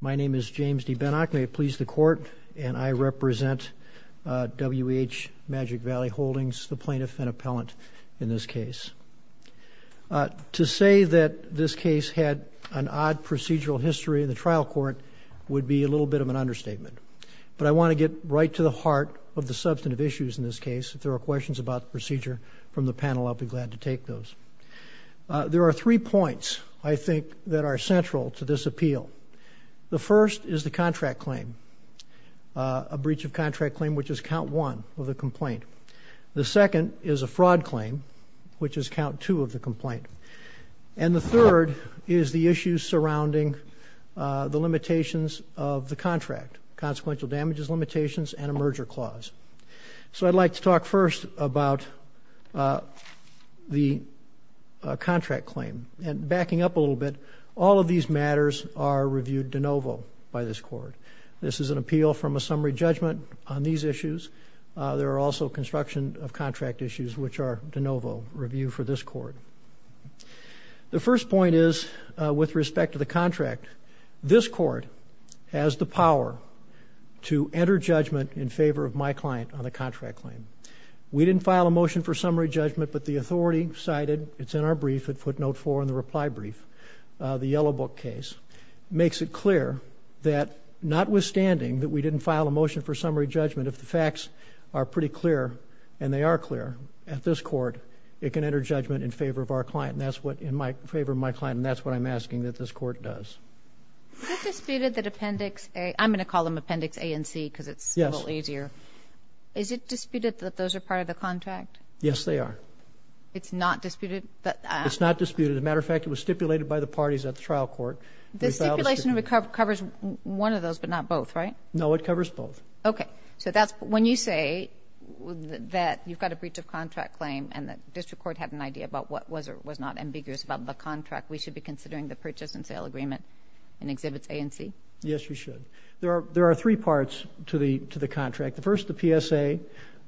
My name is James D. Benak. May it please the Court, and I represent W.H. Magic Valley Holdings, the plaintiff and appellant in this case. To say that this case had an odd procedural history in the trial court would be a little bit of an understatement, but I wanna get right to the heart of the substantive issues in this case. If there are questions about the procedure from the panel, I'll be glad to take those. There are three points, I think, that are central to this appeal. The first is the contract claim, a breach of contract claim, which is count one of the complaint. The second is a fraud claim, which is count two of the complaint. And the third is the issues surrounding the limitations of the contract, consequential damages limitations and a merger clause. So I'd like to talk first about the contract claim. And backing up a little bit, all of these matters are reviewed de novo by this court. This is an appeal from a summary judgment on these issues. There are also construction of contract issues, which are de novo review for this court. The first point is, with respect to the contract, this court has the power to enter judgment in favor of my client on the contract claim. We didn't file a motion for summary judgment, but the authority cited, it's in our brief, at footnote four in the reply brief, the Yellow Book case, makes it clear that notwithstanding that we didn't file a motion for summary judgment, if the facts are pretty clear, and they are clear at this court, it can enter judgment in favor of our client. And that's what... In favor of my client, and that's what I'm asking that this court does. Is it disputed that Appendix A... I'm gonna call them Appendix A and C, because it's a little easier. Is it disputed that those are part of the contract? Yes, they are. It's not disputed? It's not disputed. As a matter of fact, it was stipulated by the parties at the trial court. The stipulation covers one of those, but not both, right? No, it covers both. Okay. So that's... When you say that you've got a breach of contract claim, and the district court had an idea about what was or was not ambiguous about the contract, we should be considering the purchase and sale agreement in Exhibits A and C? Yes, you should. There are three parts to the contract. The first, the PSA.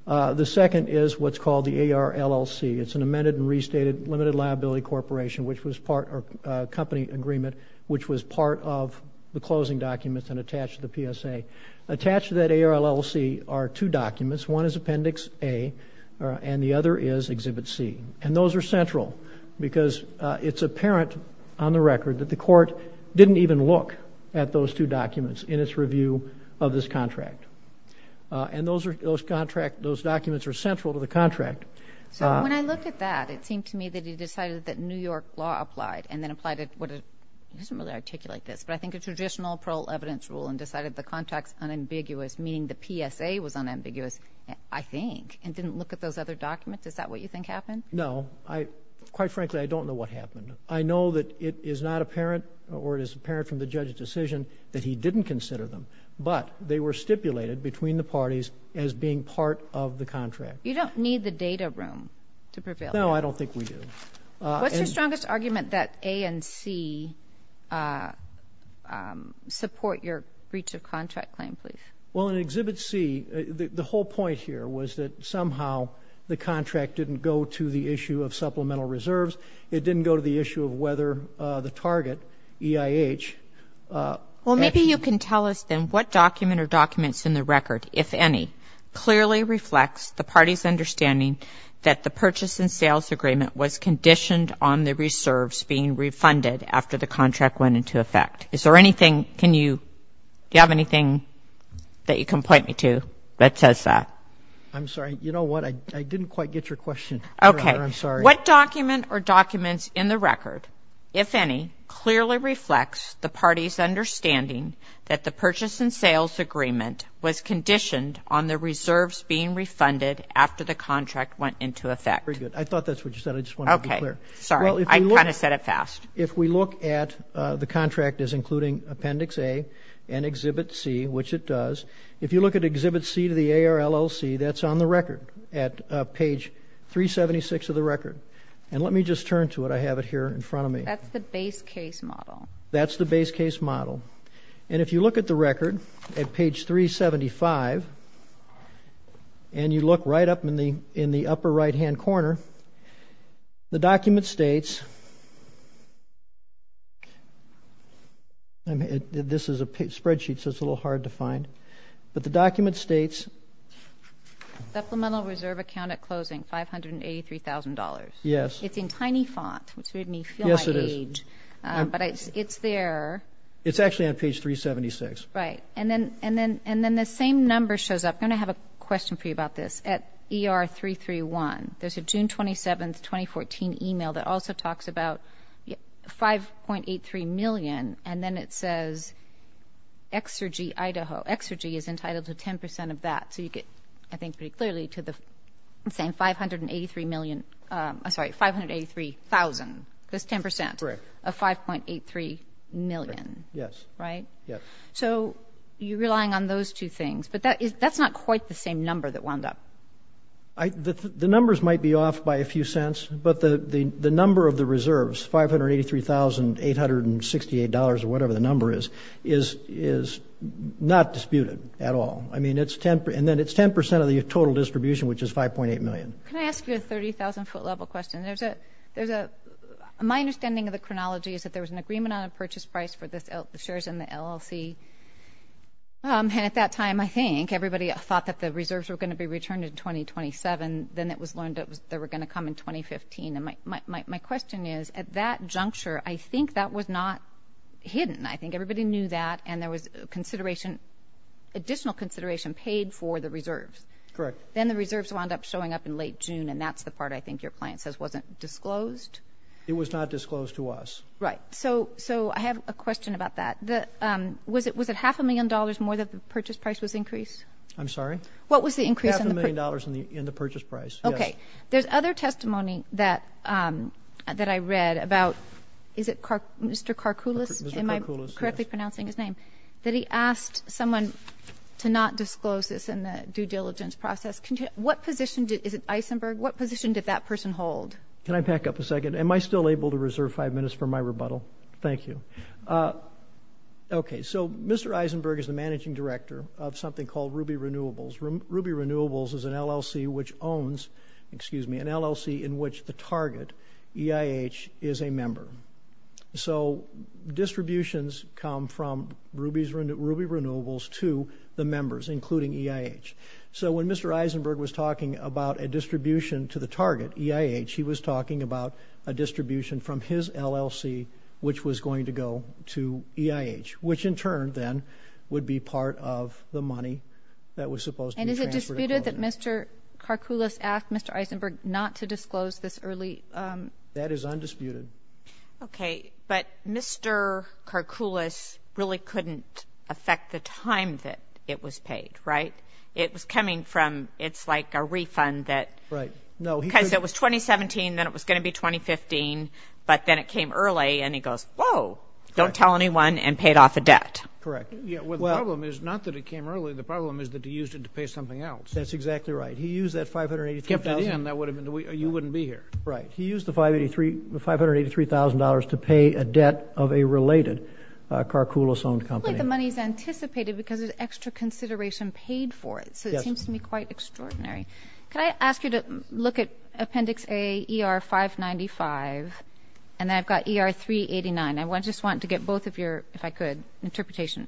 The second is what's called the AR LLC. It's an amended and restated limited liability corporation, which was part of a company agreement, which was part of the closing documents and attached to the PSA. Attached to that AR LLC are two documents. One is Appendix A, and the other is Exhibit C. And those are central, because it's apparent on the record that the court didn't even look at those two documents in its review of this contract. And those documents are central to the contract. So when I look at that, it seemed to me that he decided that New York law applied and then applied it... He doesn't really articulate this, but I think a traditional parole evidence rule and decided the contract's unambiguous, meaning the PSA was unambiguous, I think, and didn't look at those other documents. Is that what you think happened? No. Quite frankly, I don't know what happened. I know that it is not apparent, or it is unambiguous, that he did not consider them, but they were stipulated between the parties as being part of the contract. You don't need the data room to prevail. No, I don't think we do. What's your strongest argument that A and C support your breach of contract claim, please? Well, in Exhibit C, the whole point here was that somehow the contract didn't go to the issue of supplemental reserves. It didn't go to the issue of whether the target, EIH... Well, maybe you can tell us then what document or documents in the record, if any, clearly reflects the party's understanding that the purchase and sales agreement was conditioned on the reserves being refunded after the contract went into effect. Is there anything, can you... Do you have anything that you can point me to that says that? I'm sorry, you know what? I didn't quite get your question. Okay. I'm sorry. What document or documents in the record, if any, clearly reflects the party's understanding that the purchase and sales agreement was conditioned on the reserves being refunded after the contract went into effect? Very good. I thought that's what you said. I just wanted to be clear. Okay. Sorry, I kind of said it fast. If we look at... The contract is including Appendix A and Exhibit C, which it does. If you look at Exhibit C to the AR LLC, that's on the record at page 376 of the record. And let me just turn to it. I have it here in front of me. That's the base case model. That's the base case model. And if you look at the record at page 375, and you look right up in the upper right hand corner, the document states... This is a spreadsheet, so it's a little hard to find. But the document states... Supplemental reserve account at closing $583,000. Yes. It's in tiny font, which made me feel my age. Yes, it is. But it's there. It's actually on page 376. Right. And then the same number shows up. I'm gonna have a question for you about this. At ER331, there's a June 27th, 2014 email that also talks about 5.83 million, and then it says, Exergy Idaho. Exergy is entitled to 10% of that. So you get, I think pretty clearly, to the same 583 million... I'm sorry, 583,000. That's 10% of 5.83 million. Yes. Right? Yes. So you're relying on those two things, but that's not quite the same number that wound up. The numbers might be off by a few cents, but the number of the reserves, $583,868 or whatever the number is, is not disputed at all. And then it's 10% of the total distribution, which is 5.8 million. Can I ask you a 30,000 foot level question? My understanding of the chronology is that there was an agreement on a purchase price for the shares in the LLC, and at that time, I think, everybody thought that the reserves were gonna be returned in 2027. Then it was learned that they were gonna come in 2015. And my question is, at that juncture, I think that was not hidden. I think everybody knew that, and there was consideration, additional consideration paid for the reserves. Correct. Then the reserves wound up showing up in late June, and that's the part I think your client says wasn't disclosed. It was not disclosed to us. Right. So I have a question about that. Was it half a million dollars more that the purchase price was increased? I'm sorry? What was the increase in the... Half a million dollars in the purchase price. Okay. There's other testimony that I read about... Is it Mr. Karkoulis? Mr. Karkoulis, yes. Am I... Someone to not disclose this in the due diligence process. What position did... Is it Eisenberg? What position did that person hold? Can I back up a second? Am I still able to reserve five minutes for my rebuttal? Thank you. Okay. So Mr. Eisenberg is the managing director of something called Ruby Renewables. Ruby Renewables is an LLC which owns... Excuse me, an LLC in which the target, EIH, is a member. So distributions come from Ruby Renewables to the members, including EIH. So when Mr. Eisenberg was talking about a distribution to the target, EIH, he was talking about a distribution from his LLC which was going to go to EIH, which in turn then would be part of the money that was supposed to be transferred. And is it disputed that Mr. Karkoulis asked Mr. Eisenberg not to disclose this early? That is undisputed. Okay. But Mr. Karkoulis really couldn't affect the time that it was paid, right? It was coming from... It's like a refund that... Right. No, he... Because it was 2017, then it was gonna be 2015, but then it came early and he goes, Whoa, don't tell anyone and paid off a debt. Correct. Yeah. Well, the problem is not that it came early, the problem is that he used it to pay something else. That's exactly right. He used that $583,000... Give it to him, you wouldn't be here. Right. He used the $583,000 to pay a debt of a related Karkoulis owned company. The money's anticipated because there's extra consideration paid for it, so it seems to me quite extraordinary. Can I ask you to look at Appendix A, ER 595 and then I've got ER 389. I just want to get both of your, if I could, interpretation.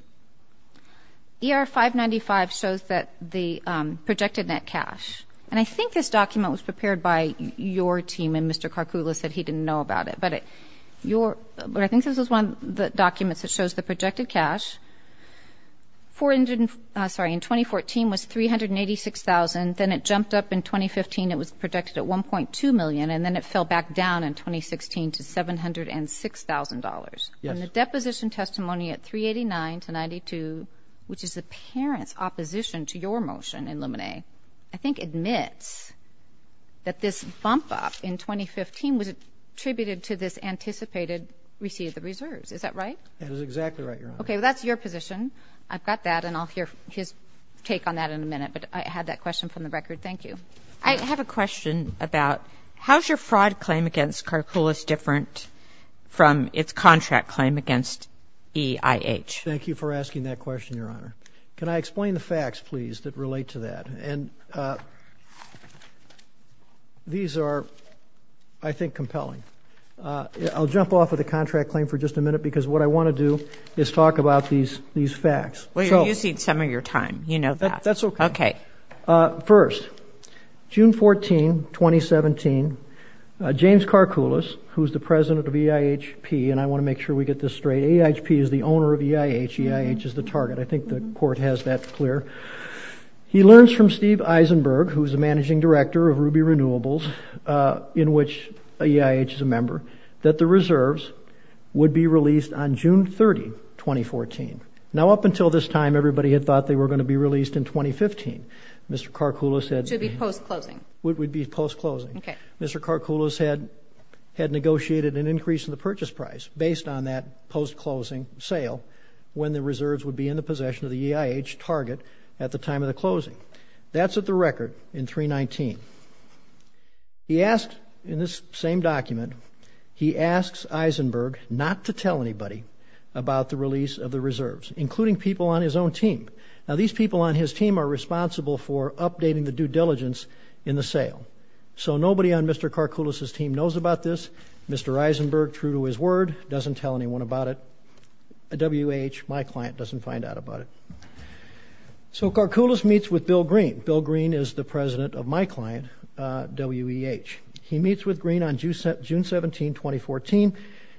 ER 595 shows that the projected net cash, and I think this document was prepared by your team and Mr. Karkoulis said he didn't know about it, but I think this is one of the documents that shows the projected cash, in 2014 was $386,000, then it jumped up in 2015, it was projected at $1.2 million and then it fell back down in 2016 to $706,000. Yes. And the deposition testimony at 389 to 92, which is the parent's opposition to your motion in Luminae, I think admits that this bump up in 2015 was attributed to this anticipated receipt of the reserves. Is that right? That is exactly right, Your Honor. Okay, well that's your position. I've got that and I'll hear his take on that in a minute, but I had that question from the record. Thank you. I have a question about how's your fraud claim against Karkoulis different from its contract claim against EIH? Thank you for asking that question, Your Honor. Can I explain the facts, please, that relate to that? These are, I think, compelling. I'll jump off of the contract claim for just a minute because what I wanna do is talk about these facts. Well, you're using some of your time, you know that. That's okay. Okay. First, June 14, 2017, James Karkoulis, who's the president of EIHP, and I wanna make sure we get this straight, EIHP is the owner of EIH, EIH is the target, I think the court has that clear. He learns from Steve Eisenberg, who's the managing director of Ruby Renewables, in which EIH is a member, that the reserves would be released on June 30, 2014. Now, up until this time, everybody had thought they were gonna be released in 2015. Mr. Karkoulis had... Should be post closing. Would be post closing. Okay. Mr. Karkoulis had negotiated an increase in the purchase price based on that post closing sale when the reserves would be in possession of the EIH target at the time of the closing. That's at the record in 319. He asked, in this same document, he asks Eisenberg not to tell anybody about the release of the reserves, including people on his own team. Now, these people on his team are responsible for updating the due diligence in the sale. So nobody on Mr. Karkoulis' team knows about this. Mr. Eisenberg, true to his word, doesn't tell anyone about it. W.E.H., my client, doesn't find out about it. So Karkoulis meets with Bill Green. Bill Green is the president of my client, W.E.H. He meets with Green on June 17, 2014.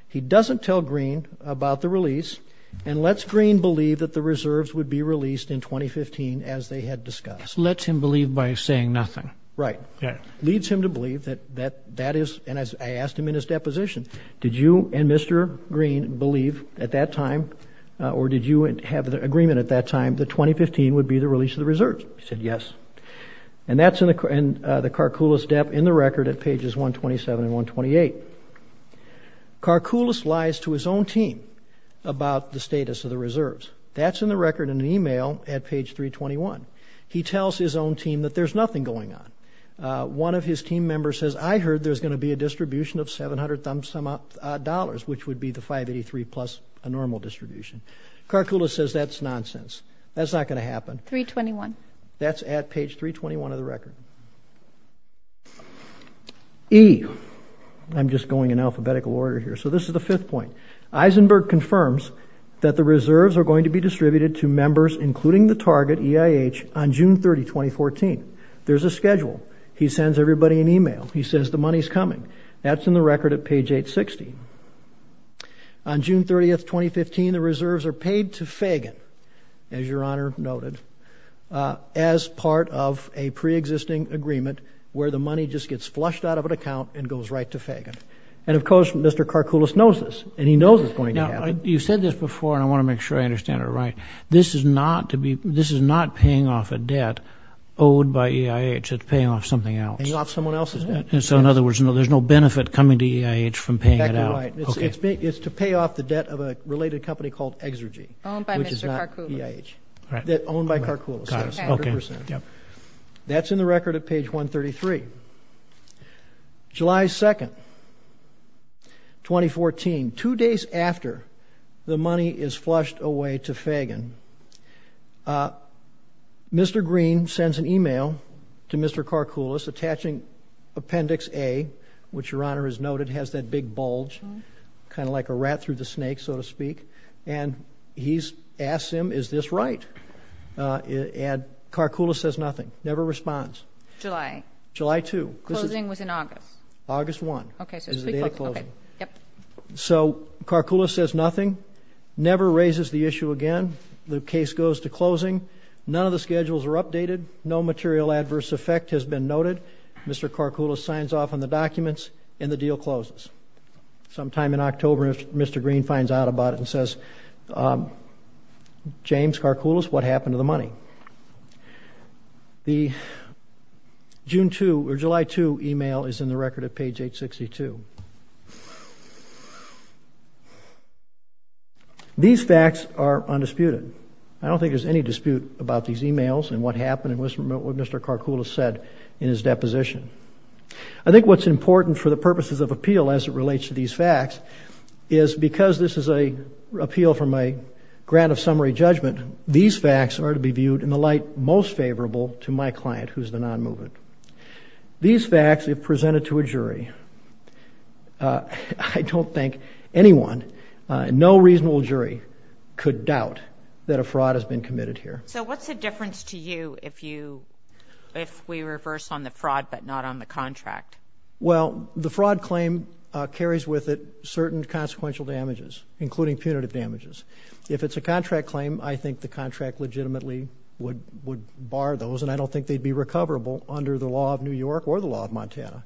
He doesn't tell Green about the release and lets Green believe that the reserves would be released in 2015 as they had discussed. Let's him believe by saying nothing. Right. Yeah. Leads him to believe that that is... And I asked him in his deposition, did you and Mr. Green believe at that time or did you have the agreement at that time that 2015 would be the release of the reserves? He said, yes. And that's in the Karkoulis' debt in the record at pages 127 and 128. Karkoulis lies to his own team about the status of the reserves. That's in the record in an email at page 321. He tells his own team that there's nothing going on. One of his team members says, I heard there's gonna be a distribution of 700 thumbs sum up dollars, which would be the 583 plus a normal distribution. Karkoulis says that's nonsense. That's not gonna happen. 321. That's at page 321 of the record. E, I'm just going in alphabetical order here. So this is the fifth point. Eisenberg confirms that the reserves are going to be distributed to members including the target EIH on June 30, 2014. There's a schedule. He sends everybody an email. He says the money's coming. That's in the record at page 860. On June 30th, 2015, the reserves are paid to Fagan, as your honor noted, as part of a pre existing agreement where the money just gets flushed out of an account and goes right to Fagan. And of course, Mr. Karkoulis knows this and he knows it's going to happen. Now, you've said this before and I wanna make sure I understand it right. This is not paying off a debt owed by EIH. It's paying off something else. Paying off someone else's debt. And so in other words, no, there's no benefit coming to EIH from paying it out. Exactly right. It's to pay off the debt of a related company called Exergy. Owned by Mr. Karkoulis. Which is not EIH. Owned by Karkoulis. That's 100%. That's in the record at page 133. July 2nd, 2014, two days after the money is flushed away to Fagan, Mr. Green sends an email to Mr. Karkoulis attaching Appendix A, which your honor has noted, has that big bulge, kind of like a rat through the snake, so to speak. And he's asked him, is this right? And Karkoulis says nothing. Never responds. July. July 2. Closing was in August. August 1. Okay. So it's a date of closing. So Karkoulis says nothing. Never raises the issue again. The case goes to closing. None of the schedules are updated. No material adverse effect has been noted. Mr. Karkoulis signs off on the documents and the deal closes. Sometime in October, Mr. Green finds out about it and says, James Karkoulis, what happened to the money? The June 2 or July 2 email is in the record at page 862. These facts are undisputed. I don't think there's any dispute about these emails and what happened and what Mr. Karkoulis said in his deposition. I think what's important for the purposes of appeal as it relates to these facts is because this is an appeal from a grant of summary judgment, these facts are to be viewed in the light most favorable to my client, who's the non-movement. These facts, if presented to a jury, I don't think anyone, no reasonable jury, could doubt that a fraud has been committed here. So what's the difference to you if you, if we reverse on the fraud but not on the contract? Well, the fraud claim carries with it certain consequential damages, including punitive damages. If it's a contract claim, I think the contract legitimately would bar those and I don't think they'd be recoverable under the law of New York or the law of Montana.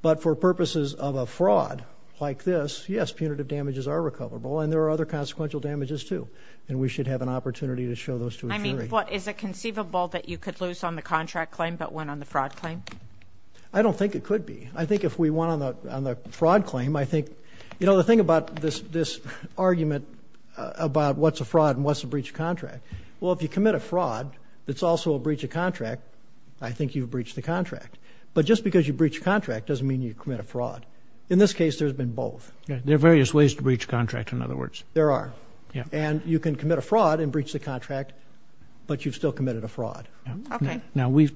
But for purposes of a Yes, punitive damages are recoverable and there are other consequential damages too and we should have an opportunity to show those to a jury. I mean, but is it conceivable that you could lose on the contract claim but win on the fraud claim? I don't think it could be. I think if we won on the fraud claim, I think, you know, the thing about this argument about what's a fraud and what's a breach of contract, well, if you commit a fraud that's also a breach of contract, I think you've breached the contract. But just because you breach a contract doesn't mean you commit a fraud. In this case, there's been both. There are various ways to breach contract, in other words. There are. Yeah. And you can commit a fraud and breach the contract but you've still committed a fraud. Okay. Now, we've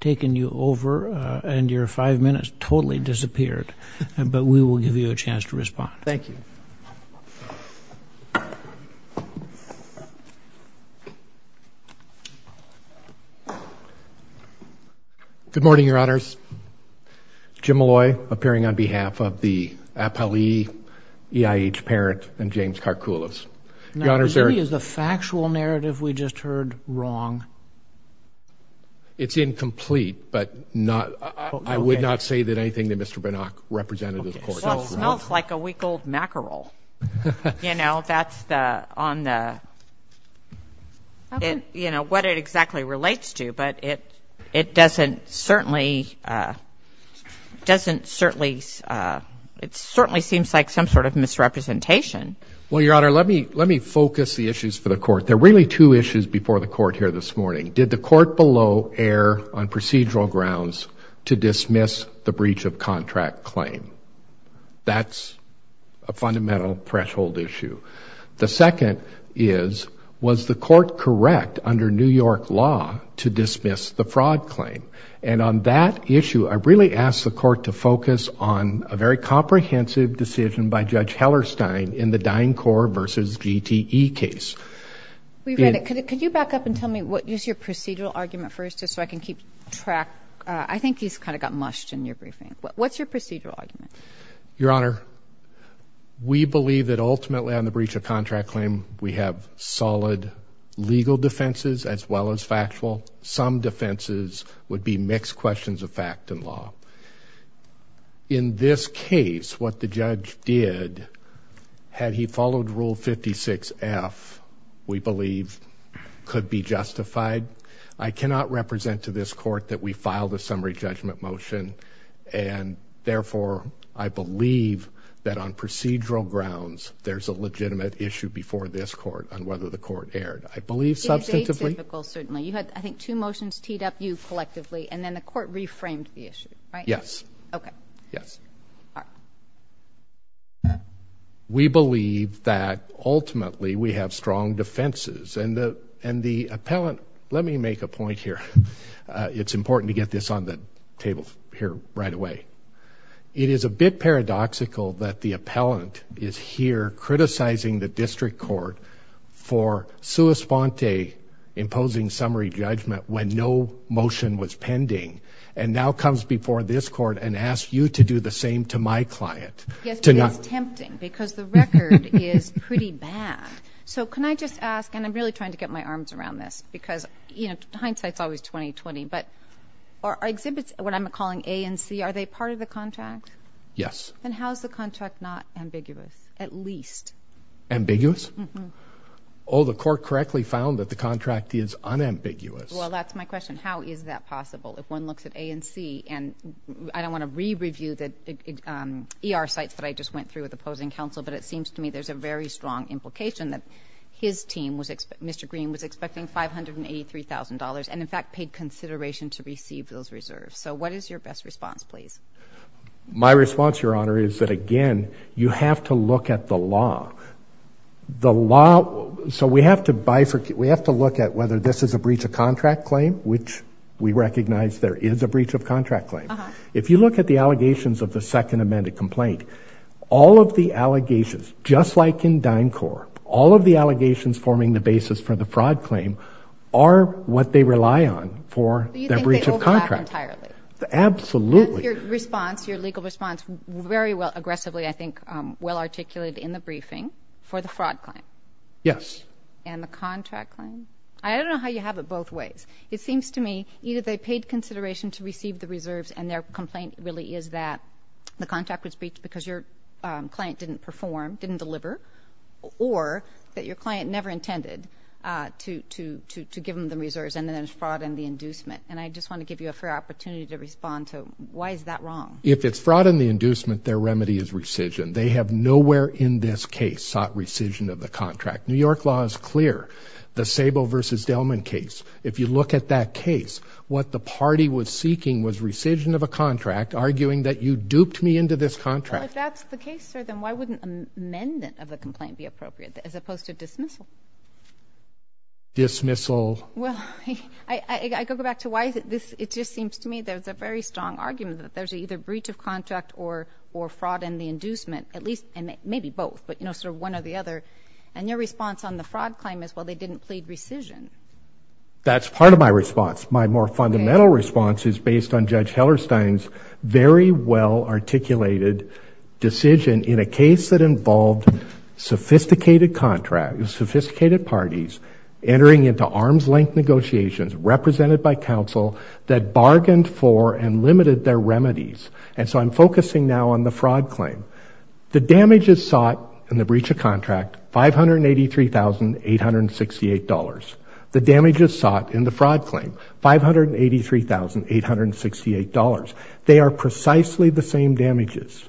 taken you over and your five minutes totally disappeared but we will give you a chance to respond. Thank you. Good morning, your honors. Jim Malloy, appearing on behalf of the Apali EIH parent and James Karkoulis. Now, is the factual narrative we just heard wrong? It's incomplete but not, I would not say that anything that Mr. Bernach represented to the court. Well, it smells like a week-old mackerel. You know, that's the, on the, you know, what it exactly relates to but it, it doesn't certainly, doesn't certainly, it certainly seems like some sort of misrepresentation. Well, your honor, let me, let me focus the issues for the court. There are really two issues before the court here this morning. Did the court below err on procedural grounds to dismiss the breach of contract claim? That's a fundamental threshold issue. The second is, was the court correct under New York law to dismiss the fraud claim? And on that issue, I really asked the court to focus on a very comprehensive decision by Judge Hellerstein in the DynCorp versus GTE case. We read it. Could you back up and tell me what is your procedural argument first just so I can keep track? I think he's kind of got mushed in your briefing. What's your procedural argument? Your honor, we believe that ultimately on the breach of contract claim, we have solid legal defenses as well as factual. Some defenses would be mixed questions of fact and law. In this case, what the I cannot represent to this court that we filed a summary judgment motion, and therefore, I believe that on procedural grounds, there's a legitimate issue before this court on whether the court erred. I believe substantively. It is atypical, certainly. You had, I think, two motions teed up you collectively, and then the court reframed the issue, right? Yes. Okay. Yes. We believe that ultimately we have strong defenses, and the, and the point here, it's important to get this on the table here right away. It is a bit paradoxical that the appellant is here criticizing the district court for sua sponte, imposing summary judgment when no motion was pending, and now comes before this court and asks you to do the same to my client. Yes, but it's tempting because the record is pretty bad. So can I just ask, and I'm really trying to get my arms around this, because, you know, hindsight's always 20-20, but are exhibits, what I'm calling A and C, are they part of the contract? Yes. Then how is the contract not ambiguous, at least? Ambiguous? Oh, the court correctly found that the contract is unambiguous. Well, that's my question. How is that possible? If one looks at A and C, and I don't want to re-review the ER sites that I just went through with opposing counsel, but it seems to me there's a very strong implication that his team, Mr. Green, was expecting $583,000 and, in fact, paid consideration to receive those reserves. So what is your best response, please? My response, Your Honor, is that, again, you have to look at the law. The law, so we have to bifurcate, we have to look at whether this is a breach of contract claim, which we recognize there is a breach of contract claim. If you look at the allegations of the second amended complaint, all of the allegations, just like in DynCorp, all of the allegations forming the basis for the fraud claim are what they rely on for their breach of contract. Do you think they overlap entirely? Absolutely. Your response, your legal response, very well, aggressively, I think, well articulated in the briefing for the fraud claim? Yes. And the contract claim? I don't know how you have it both ways. It seems to me either they paid consideration to receive the reserves and their complaint really is that the client didn't perform, didn't deliver, or that your client never intended to give them the reserves and then there's fraud in the inducement. And I just want to give you a fair opportunity to respond to why is that wrong? If it's fraud in the inducement, their remedy is rescission. They have nowhere in this case sought rescission of the contract. New York law is clear. The Sable versus Delman case, if you look at that case, what the party was seeking was rescission of a contract, arguing that you duped me into this contract. If that's the case, sir, then why wouldn't an amendment of the complaint be appropriate as opposed to dismissal? Dismissal. Well, I go back to why this, it just seems to me there's a very strong argument that there's either breach of contract or fraud in the inducement, at least, and maybe both, but you know, sort of one or the other. And your response on the fraud claim is, well, they didn't plead rescission. That's part of my response. My more fundamental response is based on Judge Hellerstein's very well articulated decision in a case that involved sophisticated contracts, sophisticated parties entering into arm's-length negotiations represented by counsel that bargained for and limited their remedies. And so I'm focusing now on the fraud claim. The damage is sought in the breach of contract, $583,868. The damage is sought in the fraud claim, $583,868. They are precisely the same damages.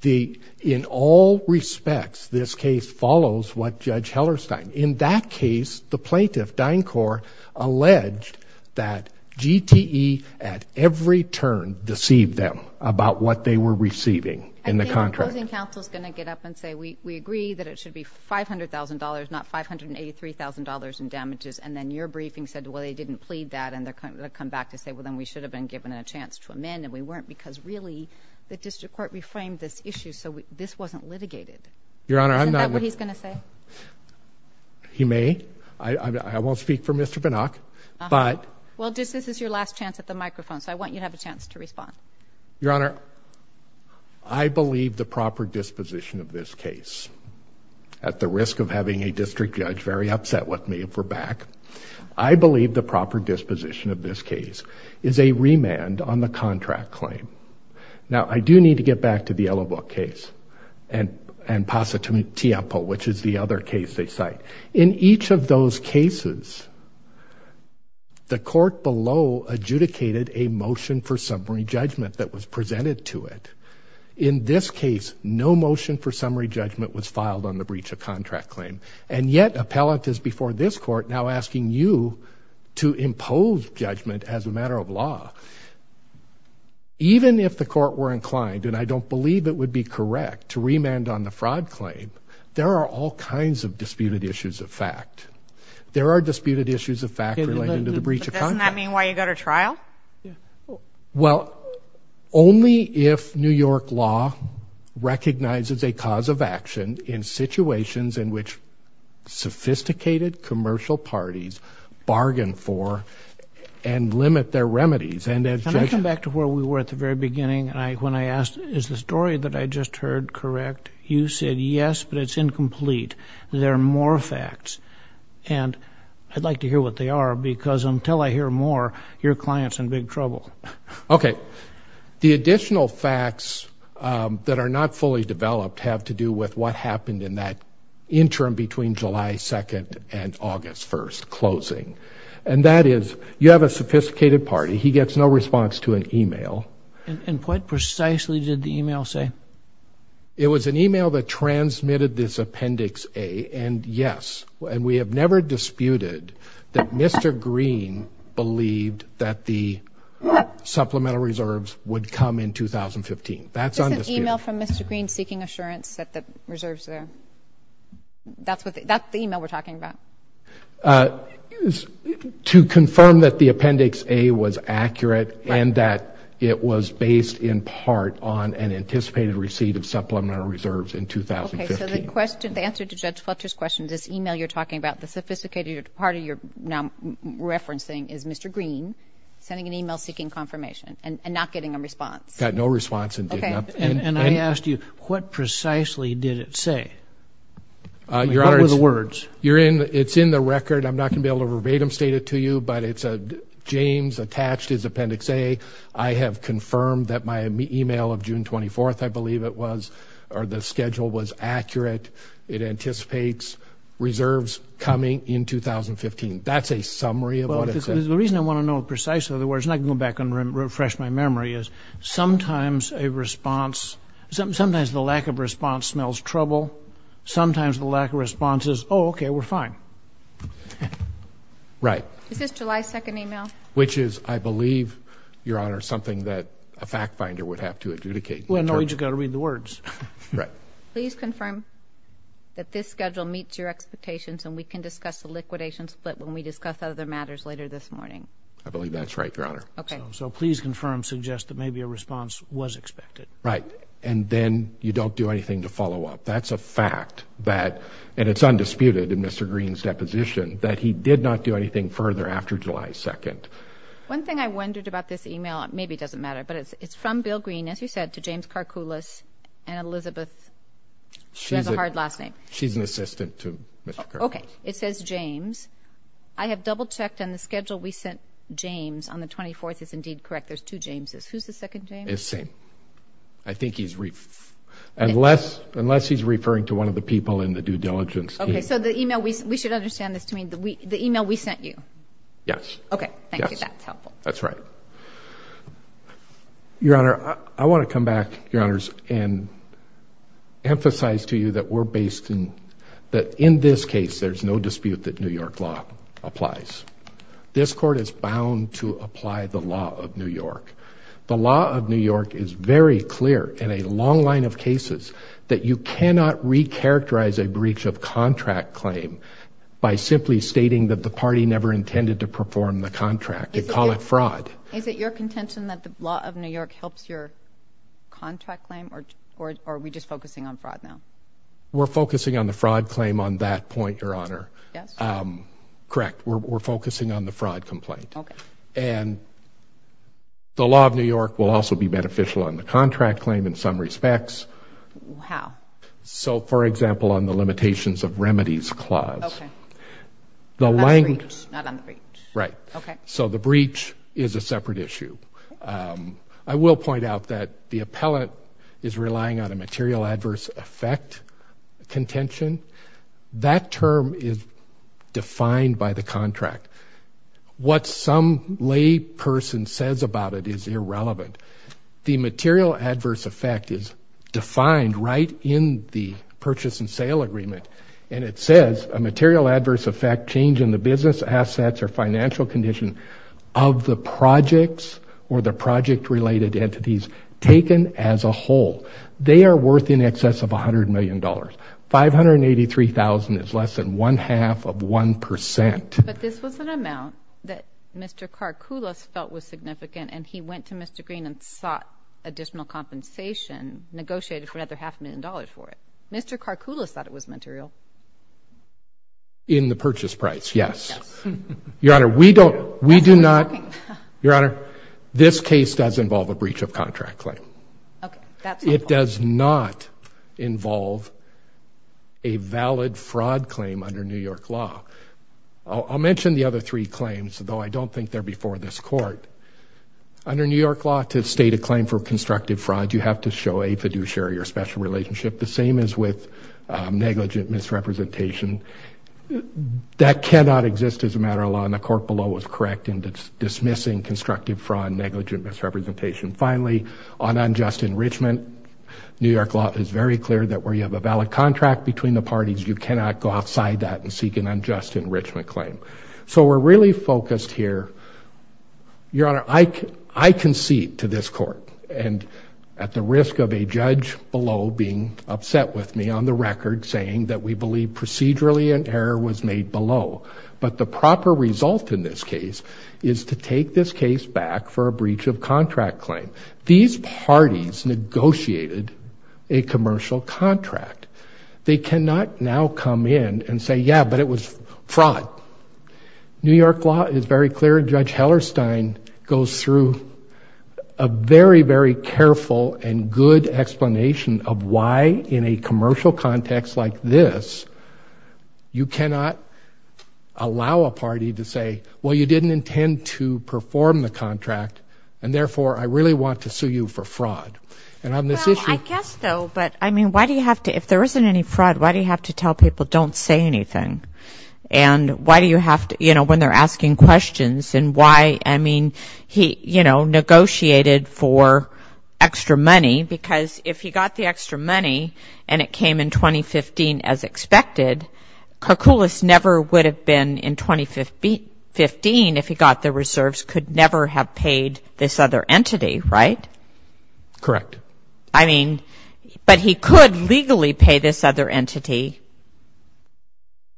The, in all respects, this case follows what Judge Hellerstein. In that case, the plaintiff, DynCorp, alleged that GTE at every turn deceived them about what they were receiving in the contract. I think the opposing counsel's going to get up and say, we agree that it should be $500,000, not $583,000 in damages, and then your briefing said, well, they didn't plead that, and they're going to come back to say, well, then we should have been given a chance to amend, and we weren't, because really, the district court reframed this issue, so this wasn't litigated. Your Honor, I'm not... Isn't that what he's going to say? He may. I won't speak for Mr. Binock, but... Well, this is your last chance at the microphone, so I want you to have a chance to respond. Your Honor, I believe the proper disposition of this case, at the risk of having a district judge very upset with me if we're back, I believe the proper disposition of this case is a remand on the contract claim. Now, I do need to get back to the Yellow Book case and Positumtiapo, which is the other case they cite. In each of those cases, the court below adjudicated a motion for summary judgment that was presented to it. In this case, no motion for summary judgment was filed on the breach of contract. Now, this court, now asking you to impose judgment as a matter of law, even if the court were inclined, and I don't believe it would be correct, to remand on the fraud claim, there are all kinds of disputed issues of fact. There are disputed issues of fact related to the breach of contract. Doesn't that mean why you go to trial? Well, only if New York law recognizes a cause of action in situations in which sophisticated commercial parties bargain for and limit their remedies. And as I come back to where we were at the very beginning, when I asked, is the story that I just heard correct? You said, yes, but it's incomplete. There are more facts and I'd like to hear what they are because until I hear more, your client's in big trouble. Okay, the additional facts that are not fully developed have to do with what happened in that interim between July 2nd and August 1st closing. And that is, you have a sophisticated party, he gets no response to an email. And what precisely did the email say? It was an email that transmitted this appendix A, and yes, and we have never disputed that Mr. Green believed that the supplemental reserves would come in 2015. That's an email from Mr. Green seeking assurance that the reserves, that's what, that's the email we're talking about? To confirm that the appendix A was accurate and that it was based in part on an anticipated receipt of supplemental reserves in 2015. Okay, so the question, the answer to Judge Fletcher's question, this email you're talking about, the sophisticated party you're now referencing is Mr. Green sending an email seeking confirmation and not getting a response. Got no response. Okay. And I asked you, what precisely did it say? What were the words? You're in, it's in the record, I'm not gonna be able to verbatim state it to you, but it's a James attached his appendix A. I have confirmed that my email of June 24th, I believe it was, or the schedule was accurate. It anticipates reserves coming in 2015. That's a summary of what it said. The reason I want to know precisely, in other words, and I can go back and refresh my memory, is sometimes a response, sometimes the lack of response smells trouble, sometimes the lack of response is, oh okay, we're fine. Right. Is this July 2nd email? Which is, I believe, Your Honor, something that a fact-finder would have to adjudicate. Well, no, you just got to read the words. Right. Please confirm that this schedule meets your expectations and we can discuss the liquidation split when we discuss other matters later this morning. I believe that's right, Your Honor. Okay. So please confirm, suggest that maybe a response was expected. Right, and then you don't do anything to follow up. That's a fact that, and it's undisputed in Mr. Green's deposition, that he did not do anything further after July 2nd. One thing I wondered about this email, maybe doesn't matter, but it's from Bill Green, as you said, to James Karkoulis and Elizabeth, she has a hard last name. She's an assistant to Mr. Karkoulis. Okay, it says James. I have double-checked on the schedule we sent James on the 24th. It's indeed correct. There's two Jameses. Who's the second James? It's the same. I think he's referring, unless he's referring to one of the people in the due diligence team. Okay, so the email, we should understand this to mean the email we sent you? Yes. Okay, thank you. That's helpful. That's right. Your Honor, I want to come back, Your Honors, and emphasize to you that we're based in, that in this law applies. This court is bound to apply the law of New York. The law of New York is very clear in a long line of cases that you cannot recharacterize a breach of contract claim by simply stating that the party never intended to perform the contract. They call it fraud. Is it your contention that the law of New York helps your contract claim, or are we just focusing on fraud now? We're correct. We're focusing on the fraud complaint, and the law of New York will also be beneficial on the contract claim in some respects. How? So, for example, on the limitations of remedies clause. The language, right, so the breach is a separate issue. I will point out that the appellate is relying on a material adverse effect contention. That term is defined by the contract. What some lay person says about it is irrelevant. The material adverse effect is defined right in the purchase and sale agreement, and it says a material adverse effect change in the business assets or financial condition of the projects or the excess of a hundred million dollars. $583,000 is less than one half of one percent. But this was an amount that Mr. Karkulis felt was significant, and he went to Mr. Green and sought additional compensation, negotiated for another half a million dollars for it. Mr. Karkulis thought it was material. In the purchase price, yes. Your honor, we don't, we do not, your honor, this case does involve a breach of contract claim. It does not involve a valid fraud claim under New York law. I'll mention the other three claims, though I don't think they're before this court. Under New York law, to state a claim for constructive fraud, you have to show a fiduciary or special relationship. The same is with negligent misrepresentation. That cannot exist as a matter of law, and the court below was correct in dismissing constructive fraud, negligent misrepresentation. Finally, on unjust enrichment, New York law is very clear that where you have a valid contract between the parties, you cannot go outside that and seek an unjust enrichment claim. So we're really focused here. Your honor, I concede to this court, and at the risk of a judge below being upset with me on the record, saying that we believe procedurally an error was made below. But the proper result in this case is to take this case back for a breach of contract claim. These parties negotiated a commercial contract. They cannot now come in and say, yeah, but it was fraud. New York law is very clear. Judge Hellerstein goes through a very, very careful and good explanation of why in a commercial context like this, you cannot allow a party to say, well, you didn't intend to perform the contract, and therefore, I really want to sue you for fraud. And on this issue Well, I guess so, but I mean, why do you have to, if there isn't any fraud, why do you have to tell people don't say anything? And why do you have to, you know, when they're asking questions, and why, I mean, he, you know, negotiated for extra money, because if he got the extra money, and it came in 2015 as expected, Koukoulis never would have been in 2015 if he got the reserves, could never have paid this other entity, right? Correct. I mean, but he could legally pay this other entity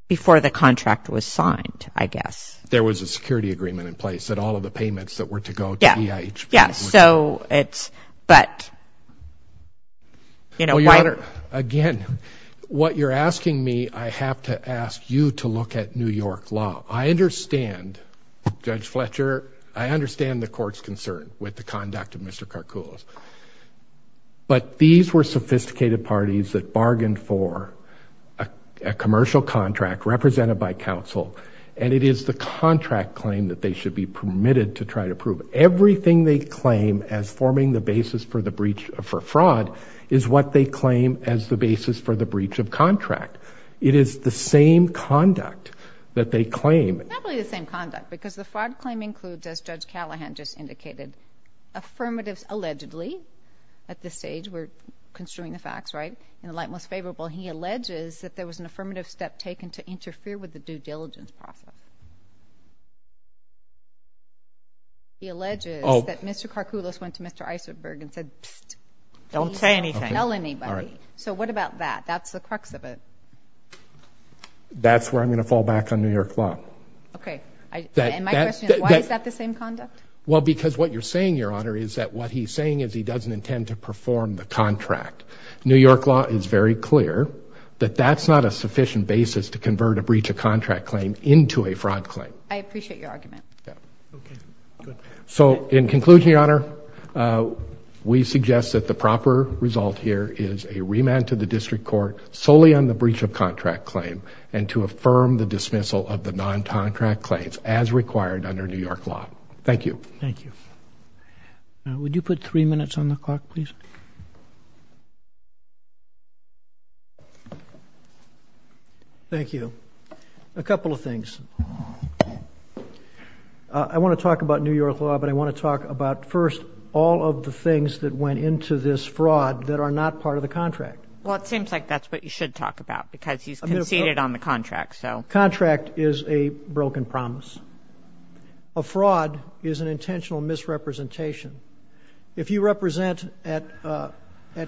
before the contract was signed, I guess. There was a security agreement in place that all of the payments that were to go to EIH. Yeah, yeah, so it's, but, you know, why Senator, again, what you're asking me, I have to ask you to look at New York law. I understand, Judge Fletcher, I understand the court's concern with the conduct of Mr. Koukoulis, but these were sophisticated parties that bargained for a commercial contract represented by counsel, and it is the contract claim that they should be permitted to try to prove. Everything they claim as forming the basis for the breach, for fraud, is what they claim as the basis for the breach of contract. It is the same conduct that they claim. It's not really the same conduct, because the fraud claim includes, as Judge Callahan just indicated, affirmatives allegedly, at this stage, we're construing the facts, right, in the light most favorable, he alleges that there was an affirmative step taken to interfere with the due diligence process. He alleges that Mr. Koukoulis went to Mr. Isenberg and said, pssst, don't tell anybody. So what about that? That's the crux of it. That's where I'm going to fall back on New York law. Okay. And my question is, why is that the same conduct? Well, because what you're saying, Your Honor, is that what he's saying is he doesn't intend to perform the contract. New York law is very clear that that's not a sufficient basis to convert a breach of fraud claim. I appreciate your argument. Okay. So, in conclusion, Your Honor, we suggest that the proper result here is a remand to the district court solely on the breach of contract claim and to affirm the dismissal of the non-contract claims as required under New York law. Thank you. Thank you. Now, would you put three minutes on the clock, please? Thank you. A couple of things. I want to talk about New York law, but I want to talk about, first, all of the things that went into this fraud that are not part of the contract. Well, it seems like that's what you should talk about, because he's conceded on the contract. Contract is a broken promise. A fraud is an intentional misrepresentation. If you represent at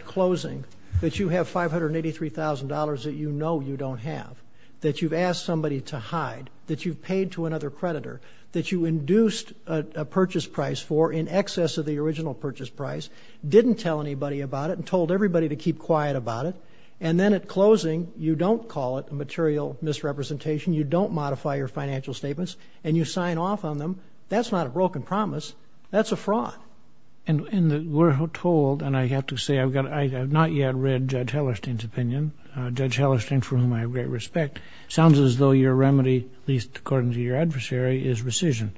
closing that you have $583,000 that you know you don't have, that you've asked somebody to hide, that you've paid to another creditor, that you induced a purchase price for in excess of the original purchase price, didn't tell anybody about it and told everybody to keep quiet about it, and then at closing, you don't call it a material misrepresentation, you don't modify your financial statements, and you sign off on them, that's not a broken promise. That's a fraud. And we're told, and I have to say, I've not yet read Judge Hellerstein's opinion, Judge It sounds as though your remedy, at least according to your adversary, is rescission.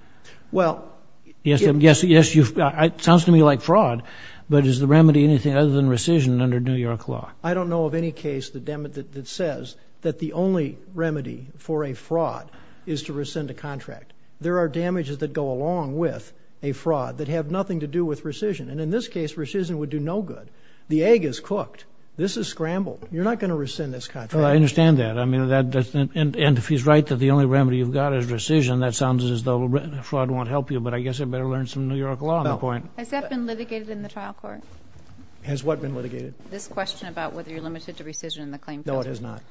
Yes, it sounds to me like fraud, but is the remedy anything other than rescission under New York law? I don't know of any case that says that the only remedy for a fraud is to rescind a contract. There are damages that go along with a fraud that have nothing to do with rescission, and in this case, rescission would do no good. The egg is cooked. This is scrambled. You're not going to rescind this contract. I understand that. I mean, that doesn't, and if he's right that the only remedy you've got is rescission, that sounds as though fraud won't help you, but I guess I better learn some New York law on the point. Has that been litigated in the trial court? Has what been litigated? This question about whether you're limited to rescission in the claim. No, it has not.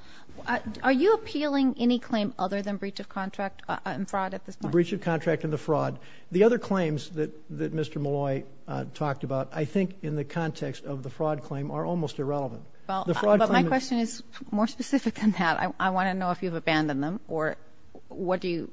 Are you appealing any claim other than breach of contract and fraud at this point? Breach of contract and the fraud. The other claims that Mr. Malloy talked about, I think in the context of the fraud claim, are almost irrelevant. But my question is more specific than that. I want to know if you've abandoned them, or what do you,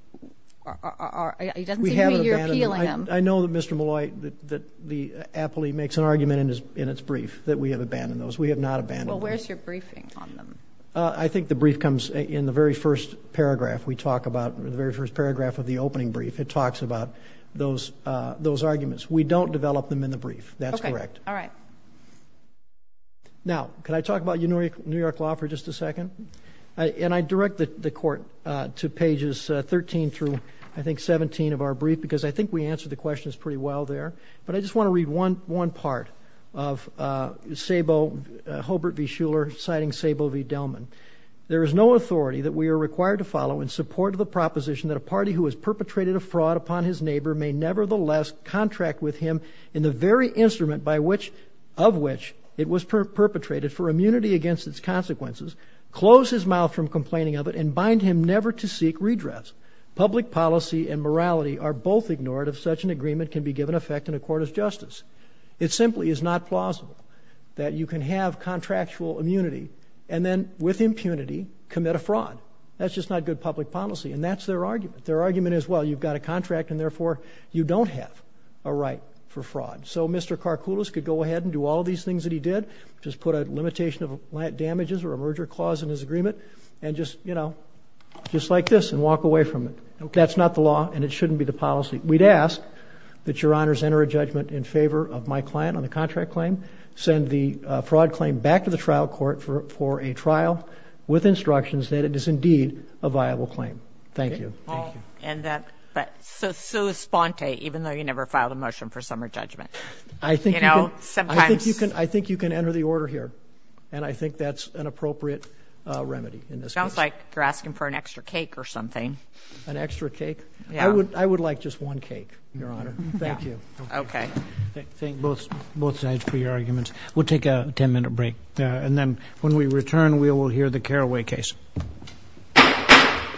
it doesn't seem to me you're appealing them. We have abandoned them. I know that Mr. Malloy, that the appellee makes an argument in its brief that we have abandoned those. We have not abandoned those. Well, where's your briefing on them? I think the brief comes in the very first paragraph we talk about, the very first paragraph of the opening brief. It talks about those arguments. We don't develop them in the brief. That's correct. Okay. All right. Now, can I talk about New York law for just a second? And I direct the court to pages 13 through I think 17 of our brief, because I think we answered the questions pretty well there. But I just want to read one part of Sabo, Hobart v. Shuler, citing Sabo v. Delman. There is no authority that we are required to follow in support of the proposition that a party who has perpetrated a fraud upon his neighbor may nevertheless contract with him in the very instrument of which it was perpetrated for immunity against its consequences, close his mouth from complaining of it, and bind him never to seek redress. Public policy and morality are both ignored if such an agreement can be given effect in a court of justice. It simply is not plausible that you can have contractual immunity and then with impunity commit a fraud. That's just not good public policy. And that's their argument. Their argument is, well, you've got a contract and therefore you don't have a right for fraud. So Mr. Karkoulis could go ahead and do all these things that he did, just put a limitation of damages or a merger clause in his agreement and just, you know, just like this and walk away from it. Okay. That's not the law and it shouldn't be the policy. We'd ask that Your Honors enter a judgment in favor of my client on the contract claim, send the fraud claim back to the trial court for a trial with instructions that it is indeed a viable claim. Thank you. Thank you. And that, but so, so Sponte, even though you never filed a motion for summer judgment, I think, you know, sometimes you can, I think you can enter the order here and I think that's an appropriate remedy in this case. Sounds like you're asking for an extra cake or something. An extra cake? Yeah. I would, I would like just one cake. Your Honor. Thank you. Okay. Thank both, both sides for your arguments. We'll take a 10 minute break and then when we return, we will hear the Carraway case.